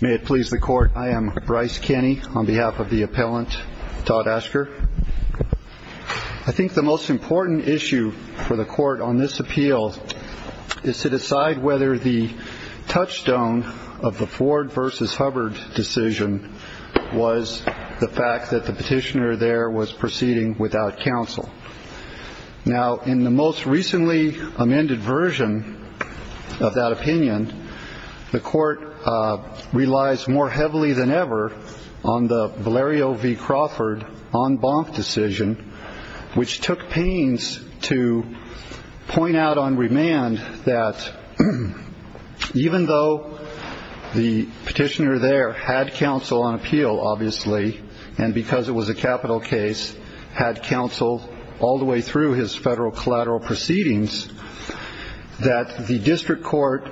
May it please the Court, I am Bryce Kenney, on behalf of the appellant, Todd Asker. I think the most important issue for the Court on this appeal is to decide whether the touchstone of the Ford v. Hubbard decision was the fact that the petitioner there was proceeding without counsel. Now, in the most recently amended version of that opinion, the Court relies more heavily than ever on the Valerio v. Crawford en banc decision, which took pains to point out on remand that even though the petitioner there had counsel on appeal, obviously, and because it was a capital case, had counsel all the way through his federal collateral proceedings, that the district court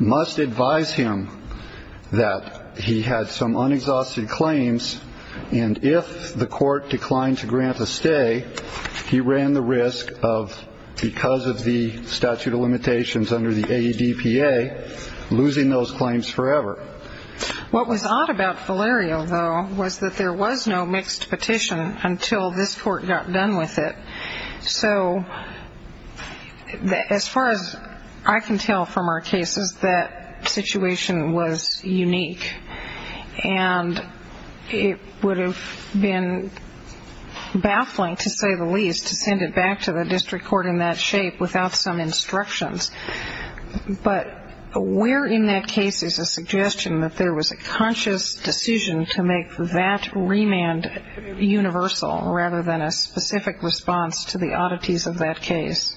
must advise him that he had some unexhausted claims, and if the court declined to grant a stay, he ran the risk of, because of the statute of limitations under the AEDPA, losing those claims forever. What was odd about Valerio, though, was that there was no mixed petition until this Court got done with it. So, as far as I can tell from our cases, that situation was unique, and it would have been baffling, to say the least, to send it back to the district court in that shape without some instructions. But where in that case is a suggestion that there was a conscious decision to make that remand universal, rather than a specific response to the oddities of that case?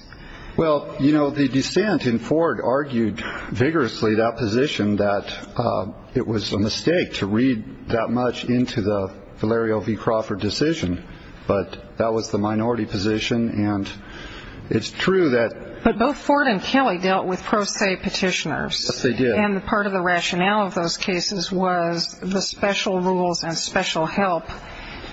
Well, you know, the dissent in Ford argued vigorously that position, that it was a mistake to read that much into the Valerio v. Crawford decision. But that was the minority position, and it's true that... But both Ford and Kelly dealt with pro se petitioners. Yes, they did. And part of the rationale of those cases was the special rules and special help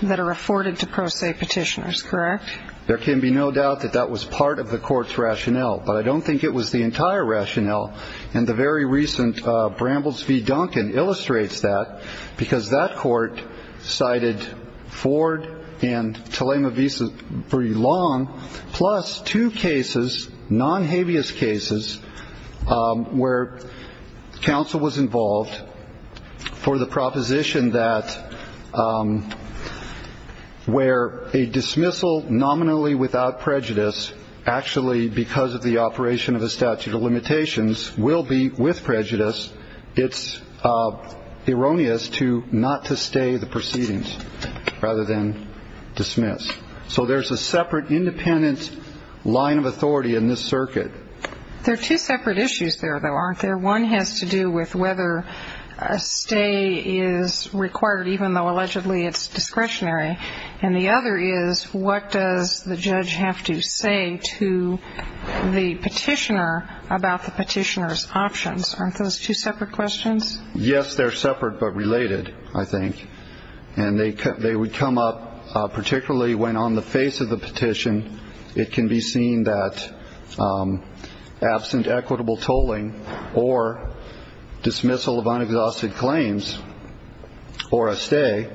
that are afforded to pro se petitioners, correct? There can be no doubt that that was part of the Court's rationale, but I don't think it was the entire rationale. And the very recent Brambles v. Duncan illustrates that, because that court cited Ford and Telema v. Long, plus two cases, non-habeas cases, where counsel was involved for the proposition that where a dismissal nominally without prejudice, actually because of the operation of a statute of limitations, will be with prejudice, it's erroneous not to stay the proceedings rather than dismiss. So there's a separate independent line of authority in this circuit. There are two separate issues there, though, aren't there? One has to do with whether a stay is required, even though allegedly it's discretionary. And the other is, what does the judge have to say to the petitioner about the petitioner's options? Aren't those two separate questions? Yes, they're separate but related, I think. And they would come up particularly when, on the face of the petition, it can be seen that absent equitable tolling or dismissal of unexhausted claims or a stay,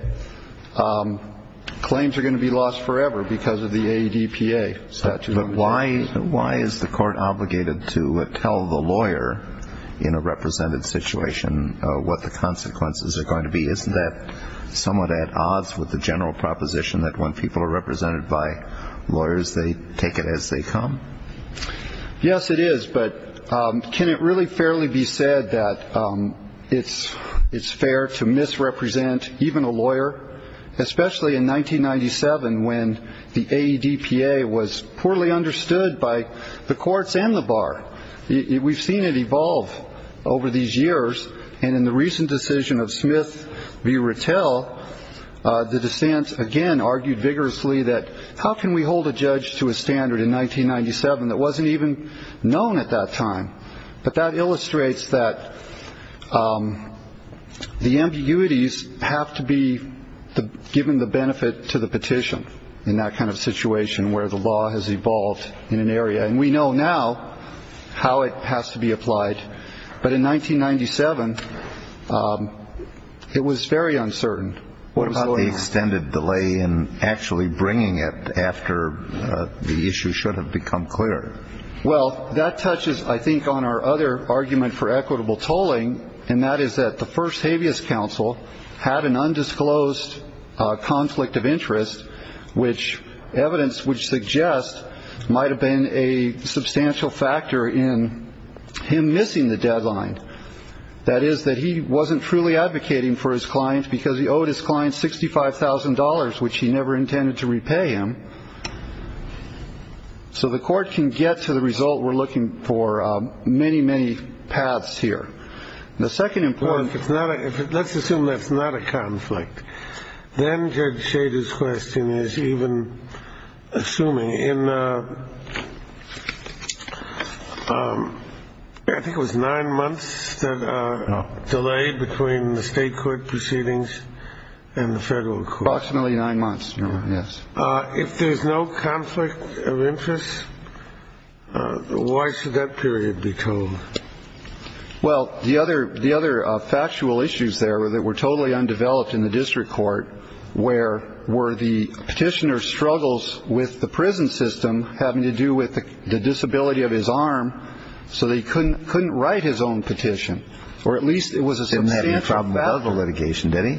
claims are going to be lost forever because of the ADPA statute of limitations. But why is the court obligated to tell the lawyer in a represented situation what the consequences are going to be? Isn't that somewhat at odds with the general proposition that when people are represented by lawyers, they take it as they come? Yes, it is. But can it really fairly be said that it's fair to misrepresent even a lawyer, especially in 1997 when the ADPA was poorly understood by the courts and the bar? We've seen it evolve over these years. And in the recent decision of Smith v. Retell, the dissent, again, argued vigorously that how can we hold a judge to a standard in 1997 that wasn't even known at that time? But that illustrates that the ambiguities have to be given the benefit to the petition in that kind of situation where the law has evolved in an area. And we know now how it has to be applied. But in 1997, it was very uncertain. What about the extended delay in actually bringing it after the issue should have become clear? Well, that touches, I think, on our other argument for equitable tolling, and that is that the first habeas counsel had an undisclosed conflict of interest, which evidence would suggest might have been a substantial factor in him missing the deadline. That is that he wasn't truly advocating for his clients because he owed his clients sixty five thousand dollars, which he never intended to repay him. So the court can get to the result. We're looking for many, many paths here. The second important. It's not. Let's assume that's not a conflict. Then Judge Shader's question is even assuming in. I think it was nine months delayed between the state court proceedings and the federal courts. Nine months. Yes. If there's no conflict of interest, why should that period be told? Well, the other the other factual issues there were that were totally undeveloped in the district court. Where were the petitioner struggles with the prison system having to do with the disability of his arm? So they couldn't couldn't write his own petition, or at least it was a substantial amount of litigation. Did he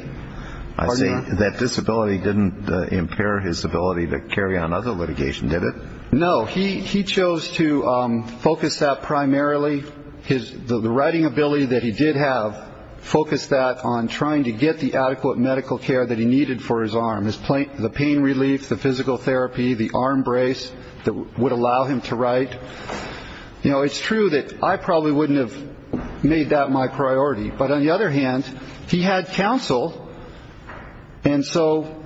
say that disability didn't impair his ability to carry on other litigation? Did it? No. He he chose to focus that primarily his writing ability that he did have. Focus that on trying to get the adequate medical care that he needed for his arm, his plate, the pain relief, the physical therapy, the arm brace that would allow him to write. You know, it's true that I probably wouldn't have made that my priority. But on the other hand, he had counsel. And so,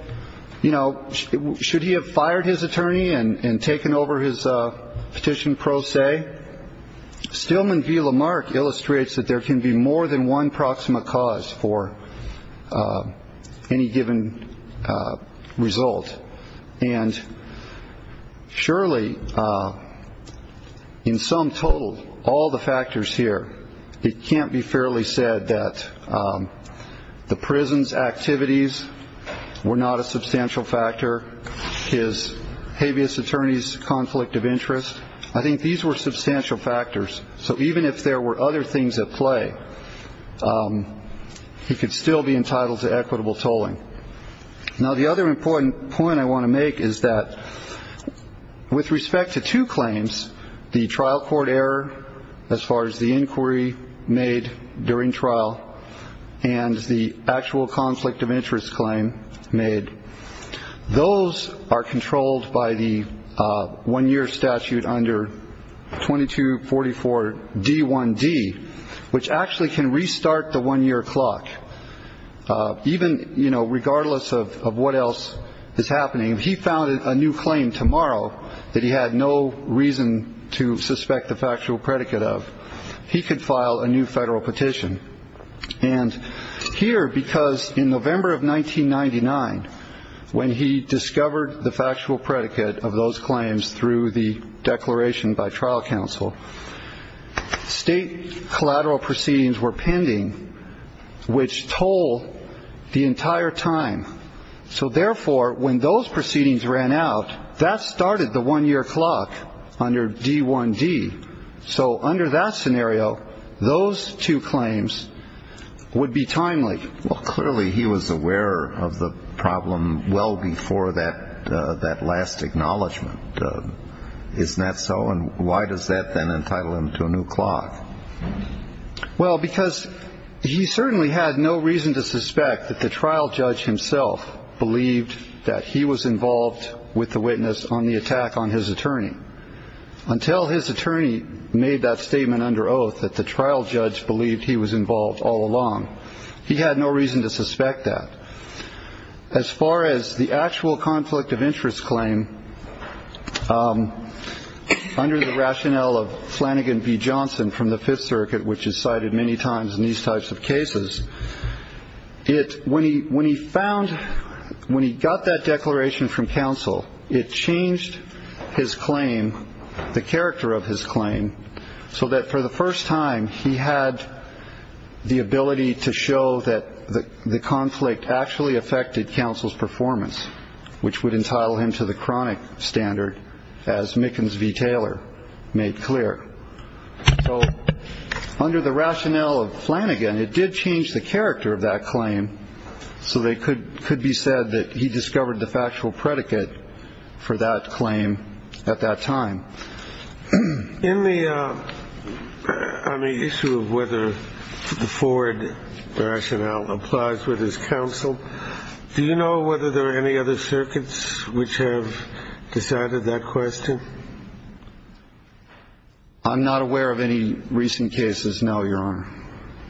you know, should he have fired his attorney and taken over his petition pro se? Stillman v. Lamarck illustrates that there can be more than one proximate cause for any given result. And surely in sum total, all the factors here, it can't be fairly said that the prison's activities were not a substantial factor. His habeas attorneys conflict of interest. I think these were substantial factors. So even if there were other things at play, he could still be entitled to equitable tolling. Now, the other important point I want to make is that with respect to two claims, the trial court error as far as the inquiry made during trial and the actual conflict of interest claim made, those are controlled by the one year statute under 22, 44, D1D, which actually can restart the one year clock. Even, you know, regardless of what else is happening, he founded a new claim tomorrow that he had no reason to suspect the factual predicate of. He could file a new federal petition. And here, because in November of 1999, when he discovered the factual predicate of those claims through the declaration by trial counsel, state collateral proceedings were pending, which toll the entire time. So therefore, when those proceedings ran out, that started the one year clock under D1D. So under that scenario, those two claims would be timely. Well, clearly he was aware of the problem well before that. That last acknowledgment is not so. And why does that then entitle him to a new clock? Well, because he certainly had no reason to suspect that the trial judge himself believed that he was involved with the witness on the attack on his attorney. Until his attorney made that statement under oath that the trial judge believed he was involved all along. He had no reason to suspect that. As far as the actual conflict of interest claim under the rationale of Flanagan B. Johnson from the Fifth Circuit, which is cited many times in these types of cases. It's when he when he found when he got that declaration from counsel, it changed his claim, the character of his claim so that for the first time he had the ability to show that the conflict actually affected counsel's performance, which would entitle him to the chronic standard as Mickens v. Taylor made clear. So under the rationale of Flanagan, it did change the character of that claim. So they could could be said that he discovered the factual predicate for that claim at that time. In the on the issue of whether the forward rationale applies with his counsel. Do you know whether there are any other circuits which have decided that question? I'm not aware of any recent cases now, Your Honor,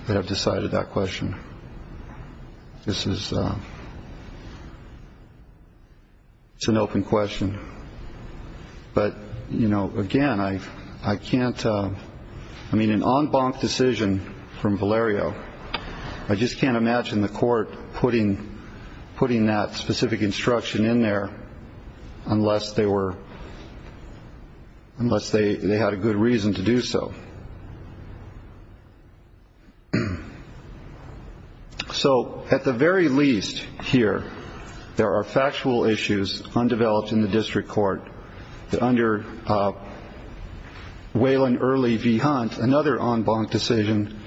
that have decided that question. This is. It's an open question. But, you know, again, I I can't I mean, an en banc decision from Valerio. I just can't imagine the court putting putting that specific instruction in there unless they were. Unless they had a good reason to do so. So at the very least here, there are factual issues undeveloped in the district court. Under Wayland, early V. Hunt, another en banc decision.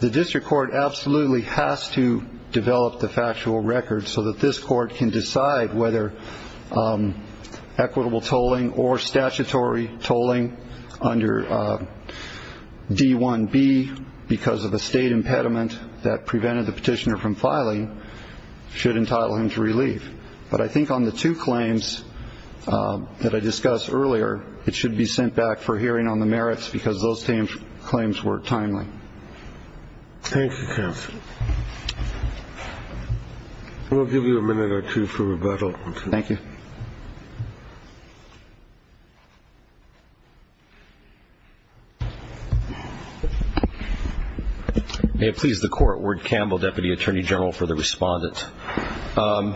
The district court absolutely has to develop the factual record so that this court can decide whether equitable tolling or statutory tolling under D1B. Because of a state impediment that prevented the petitioner from filing should entitle him to relief. But I think on the two claims that I discussed earlier, it should be sent back for hearing on the merits because those claims were timely. Thank you. We'll give you a minute or two for rebuttal. Thank you. Please. This is the court. Ward Campbell, deputy attorney general for the respondent. A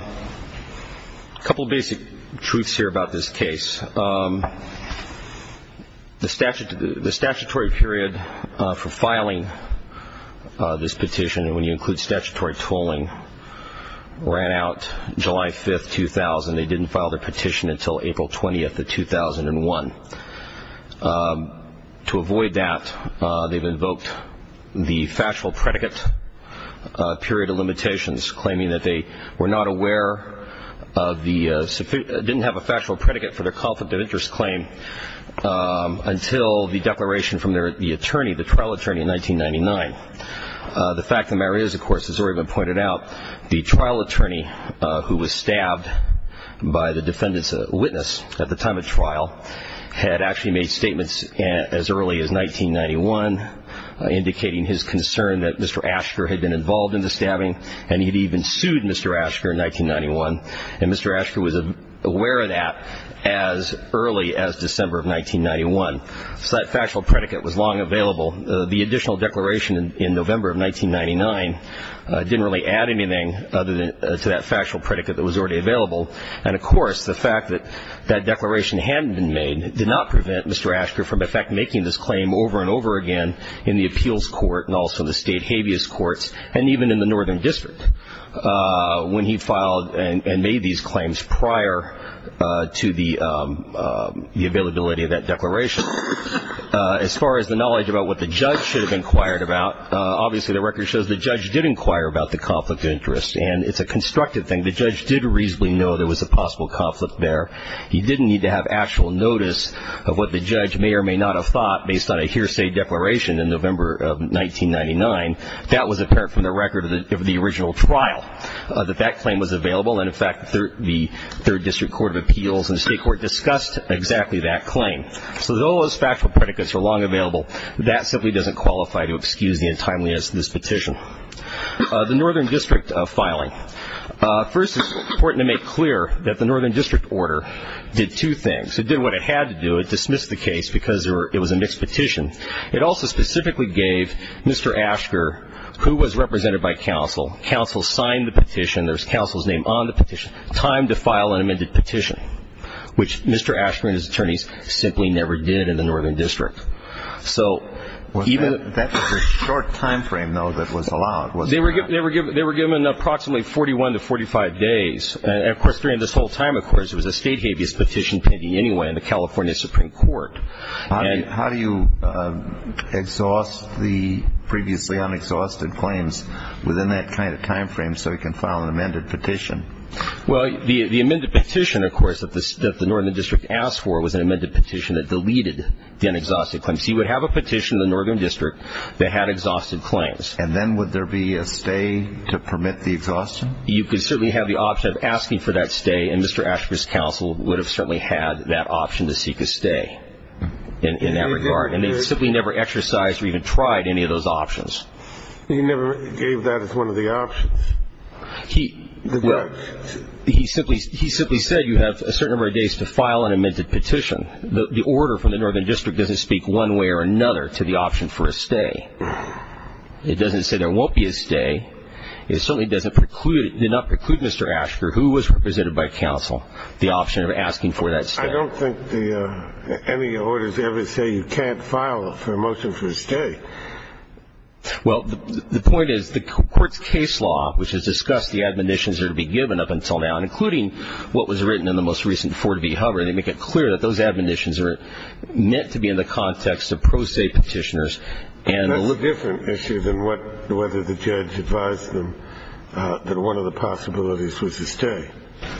couple of basic truths here about this case. The statute, the statutory period for filing this petition, and when you include statutory tolling, ran out July 5th, 2000. They didn't file their petition until April 20th of 2001. To avoid that, they've invoked the factual predicate period of limitations, claiming that they were not aware of the, didn't have a factual predicate for their conflict of interest claim until the declaration from the attorney, the trial attorney in 1999. The fact of the matter is, of course, as has already been pointed out, the trial attorney who was stabbed by the defendant's witness at the time of trial had actually made statements as early as 1991, indicating his concern that Mr. Asher had been involved in the stabbing, and he had even sued Mr. Asher in 1991. And Mr. Asher was aware of that as early as December of 1991. So that factual predicate was long available. The additional declaration in November of 1999 didn't really add anything other than to that factual predicate that was already available. And, of course, the fact that that declaration hadn't been made did not prevent Mr. Asher from, in fact, making this claim over and over again in the appeals court and also the state habeas courts and even in the Northern District when he filed and made these claims prior to the availability of that declaration. As far as the knowledge about what the judge should have inquired about, obviously the record shows the judge did inquire about the conflict of interest, and it's a constructive thing. The judge did reasonably know there was a possible conflict there. He didn't need to have actual notice of what the judge may or may not have thought based on a hearsay declaration in November of 1999. That was apparent from the record of the original trial, that that claim was available. And, in fact, the Third District Court of Appeals and the state court discussed exactly that claim. So all those factual predicates are long available. That simply doesn't qualify to excuse the untimeliness of this petition. The Northern District filing. First, it's important to make clear that the Northern District order did two things. It did what it had to do. It dismissed the case because it was a mixed petition. It also specifically gave Mr. Asher, who was represented by counsel, counsel signed the petition. There's counsel's name on the petition, time to file an amended petition, which Mr. Asher and his attorneys simply never did in the Northern District. That was a short time frame, though, that was allowed, wasn't it? They were given approximately 41 to 45 days. And, of course, during this whole time, of course, it was a state habeas petition pending anyway in the California Supreme Court. How do you exhaust the previously unexhausted claims within that kind of time frame so you can file an amended petition? Well, the amended petition, of course, that the Northern District asked for was an amended petition that deleted the unexhausted claims. So you would have a petition in the Northern District that had exhausted claims. And then would there be a stay to permit the exhaustion? You could certainly have the option of asking for that stay, and Mr. Asher's counsel would have certainly had that option to seek a stay in that regard. And they simply never exercised or even tried any of those options. He never gave that as one of the options. He simply said you have a certain number of days to file an amended petition. The order from the Northern District doesn't speak one way or another to the option for a stay. It doesn't say there won't be a stay. It certainly did not preclude Mr. Asher, who was represented by counsel, the option of asking for that stay. I don't think any orders ever say you can't file a motion for a stay. Well, the point is the court's case law, which has discussed the admonitions that are to be given up until now, including what was written in the most recent Fort V. Hover, they make it clear that those admonitions are meant to be in the context of pro se petitioners. And that's a different issue than whether the judge advised them that one of the possibilities was a stay.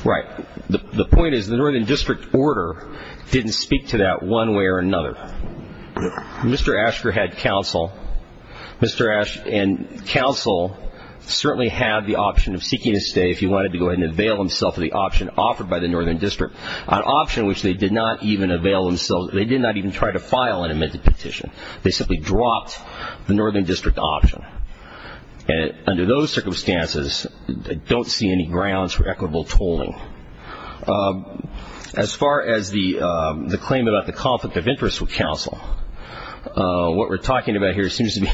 Right. The point is the Northern District order didn't speak to that one way or another. Mr. Asher had counsel, and counsel certainly had the option of seeking a stay if he wanted to go ahead and avail himself of the option offered by the Northern District, an option which they did not even avail themselves, they did not even try to file an amended petition. They simply dropped the Northern District option. And under those circumstances, I don't see any grounds for equitable tolling. As far as the claim about the conflict of interest with counsel, what we're talking about here seems to be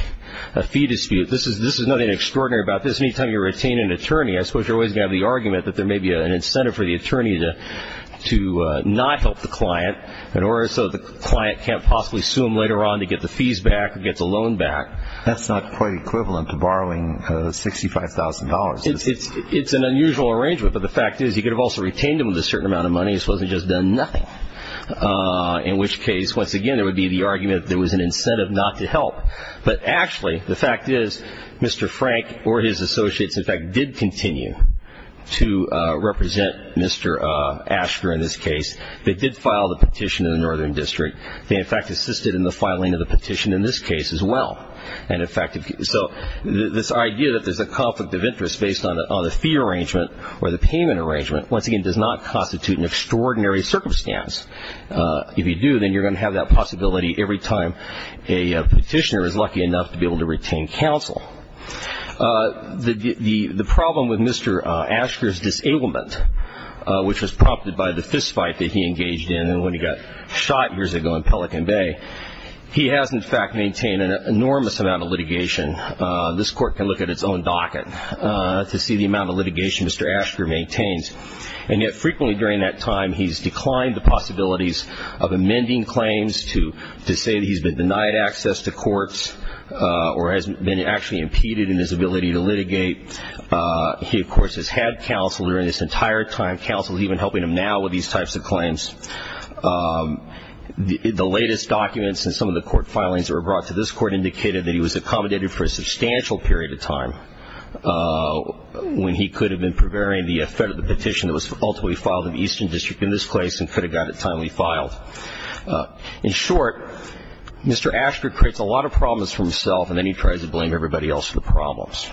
a fee dispute. This is nothing extraordinary about this. Anytime you retain an attorney, I suppose you're always going to have the argument that there may be an incentive for the attorney to not help the client in order so the client can't possibly sue him later on to get the fees back or get the loan back. That's not quite equivalent to borrowing $65,000. It's an unusual arrangement, but the fact is you could have also retained him with a certain amount of money as opposed to just done nothing, in which case, once again, there would be the argument that there was an incentive not to help. But actually, the fact is Mr. Frank or his associates, in fact, did continue to represent Mr. Asher in this case. They did file the petition in the Northern District. They, in fact, assisted in the filing of the petition in this case as well. So this idea that there's a conflict of interest based on the fee arrangement or the payment arrangement, once again, does not constitute an extraordinary circumstance. If you do, then you're going to have that possibility every time a petitioner is lucky enough to be able to retain counsel. The problem with Mr. Asher's disablement, which was prompted by the fistfight that he engaged in when he got shot years ago in Pelican Bay, he has, in fact, maintained an enormous amount of litigation. This court can look at its own docket to see the amount of litigation Mr. Asher maintains. And yet frequently during that time, he's declined the possibilities of amending claims to say that he's been denied access to courts or has been actually impeded in his ability to litigate. He, of course, has had counsel during this entire time. Counsel is even helping him now with these types of claims. The latest documents and some of the court filings that were brought to this court indicated that he was accommodated for a substantial period of time when he could have been preparing the effect of the petition that was ultimately filed in the Eastern District in this case and could have gotten it timely filed. In short, Mr. Asher creates a lot of problems for himself, and then he tries to blame everybody else for the problems.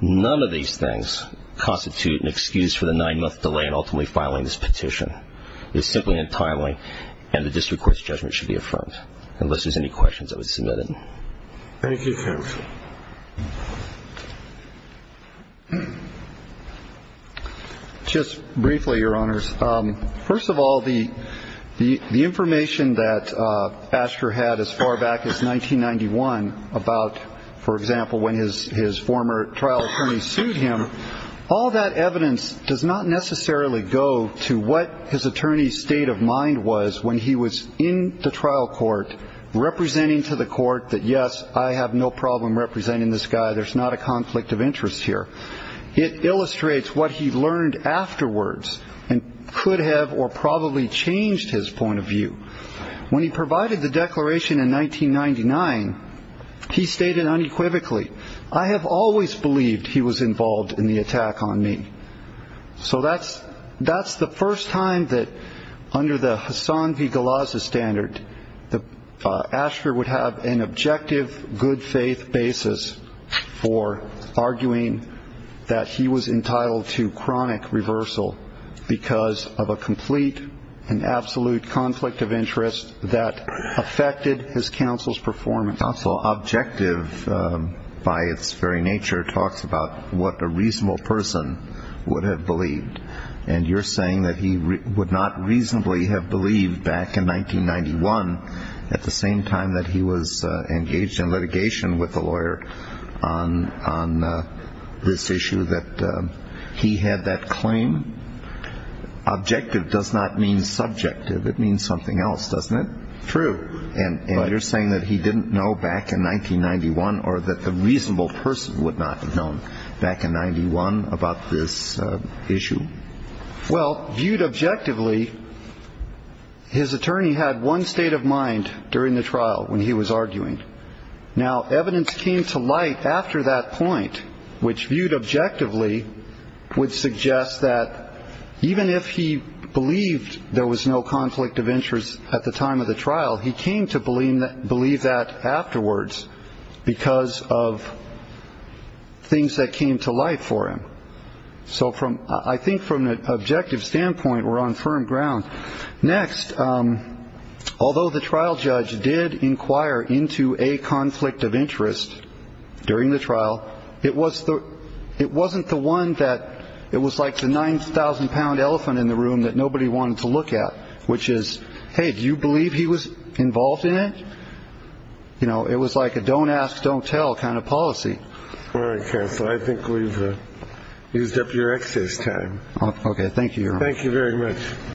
None of these things constitute an excuse for the nine-month delay in ultimately filing this petition. It's simply untimely, and the district court's judgment should be affirmed. Unless there's any questions, I would submit it. Thank you, counsel. Just briefly, Your Honors. First of all, the information that Asher had as far back as 1991 about, for example, when his former trial attorney sued him, all that evidence does not necessarily go to what his attorney's state of mind was when he was in the trial court, representing to the court that, yes, I have no problem representing this guy, there's not a conflict of interest here. It illustrates what he learned afterwards and could have or probably changed his point of view. When he provided the declaration in 1999, he stated unequivocally, I have always believed he was involved in the attack on me. So that's the first time that, under the Hasan V. Galazza standard, Asher would have an objective, good-faith basis for arguing that he was entitled to chronic reversal because of a complete and absolute conflict of interest that affected his counsel's performance. Counsel, objective by its very nature talks about what a reasonable person would have believed. And you're saying that he would not reasonably have believed back in 1991, at the same time that he was engaged in litigation with a lawyer on this issue, that he had that claim? Objective does not mean subjective. It means something else, doesn't it? True. And you're saying that he didn't know back in 1991 or that the reasonable person would not have known back in 91 about this issue? Well, viewed objectively, his attorney had one state of mind during the trial when he was arguing. Now, evidence came to light after that point, which, viewed objectively, would suggest that even if he believed there was no conflict of interest at the time of the trial, he came to believe that afterwards because of things that came to light for him. So I think from an objective standpoint, we're on firm ground. Next, although the trial judge did inquire into a conflict of interest during the trial, it was like the 9,000-pound elephant in the room that nobody wanted to look at, which is, hey, do you believe he was involved in it? You know, it was like a don't ask, don't tell kind of policy. All right, counsel, I think we've used up your excess time. OK, thank you. Thank you very much.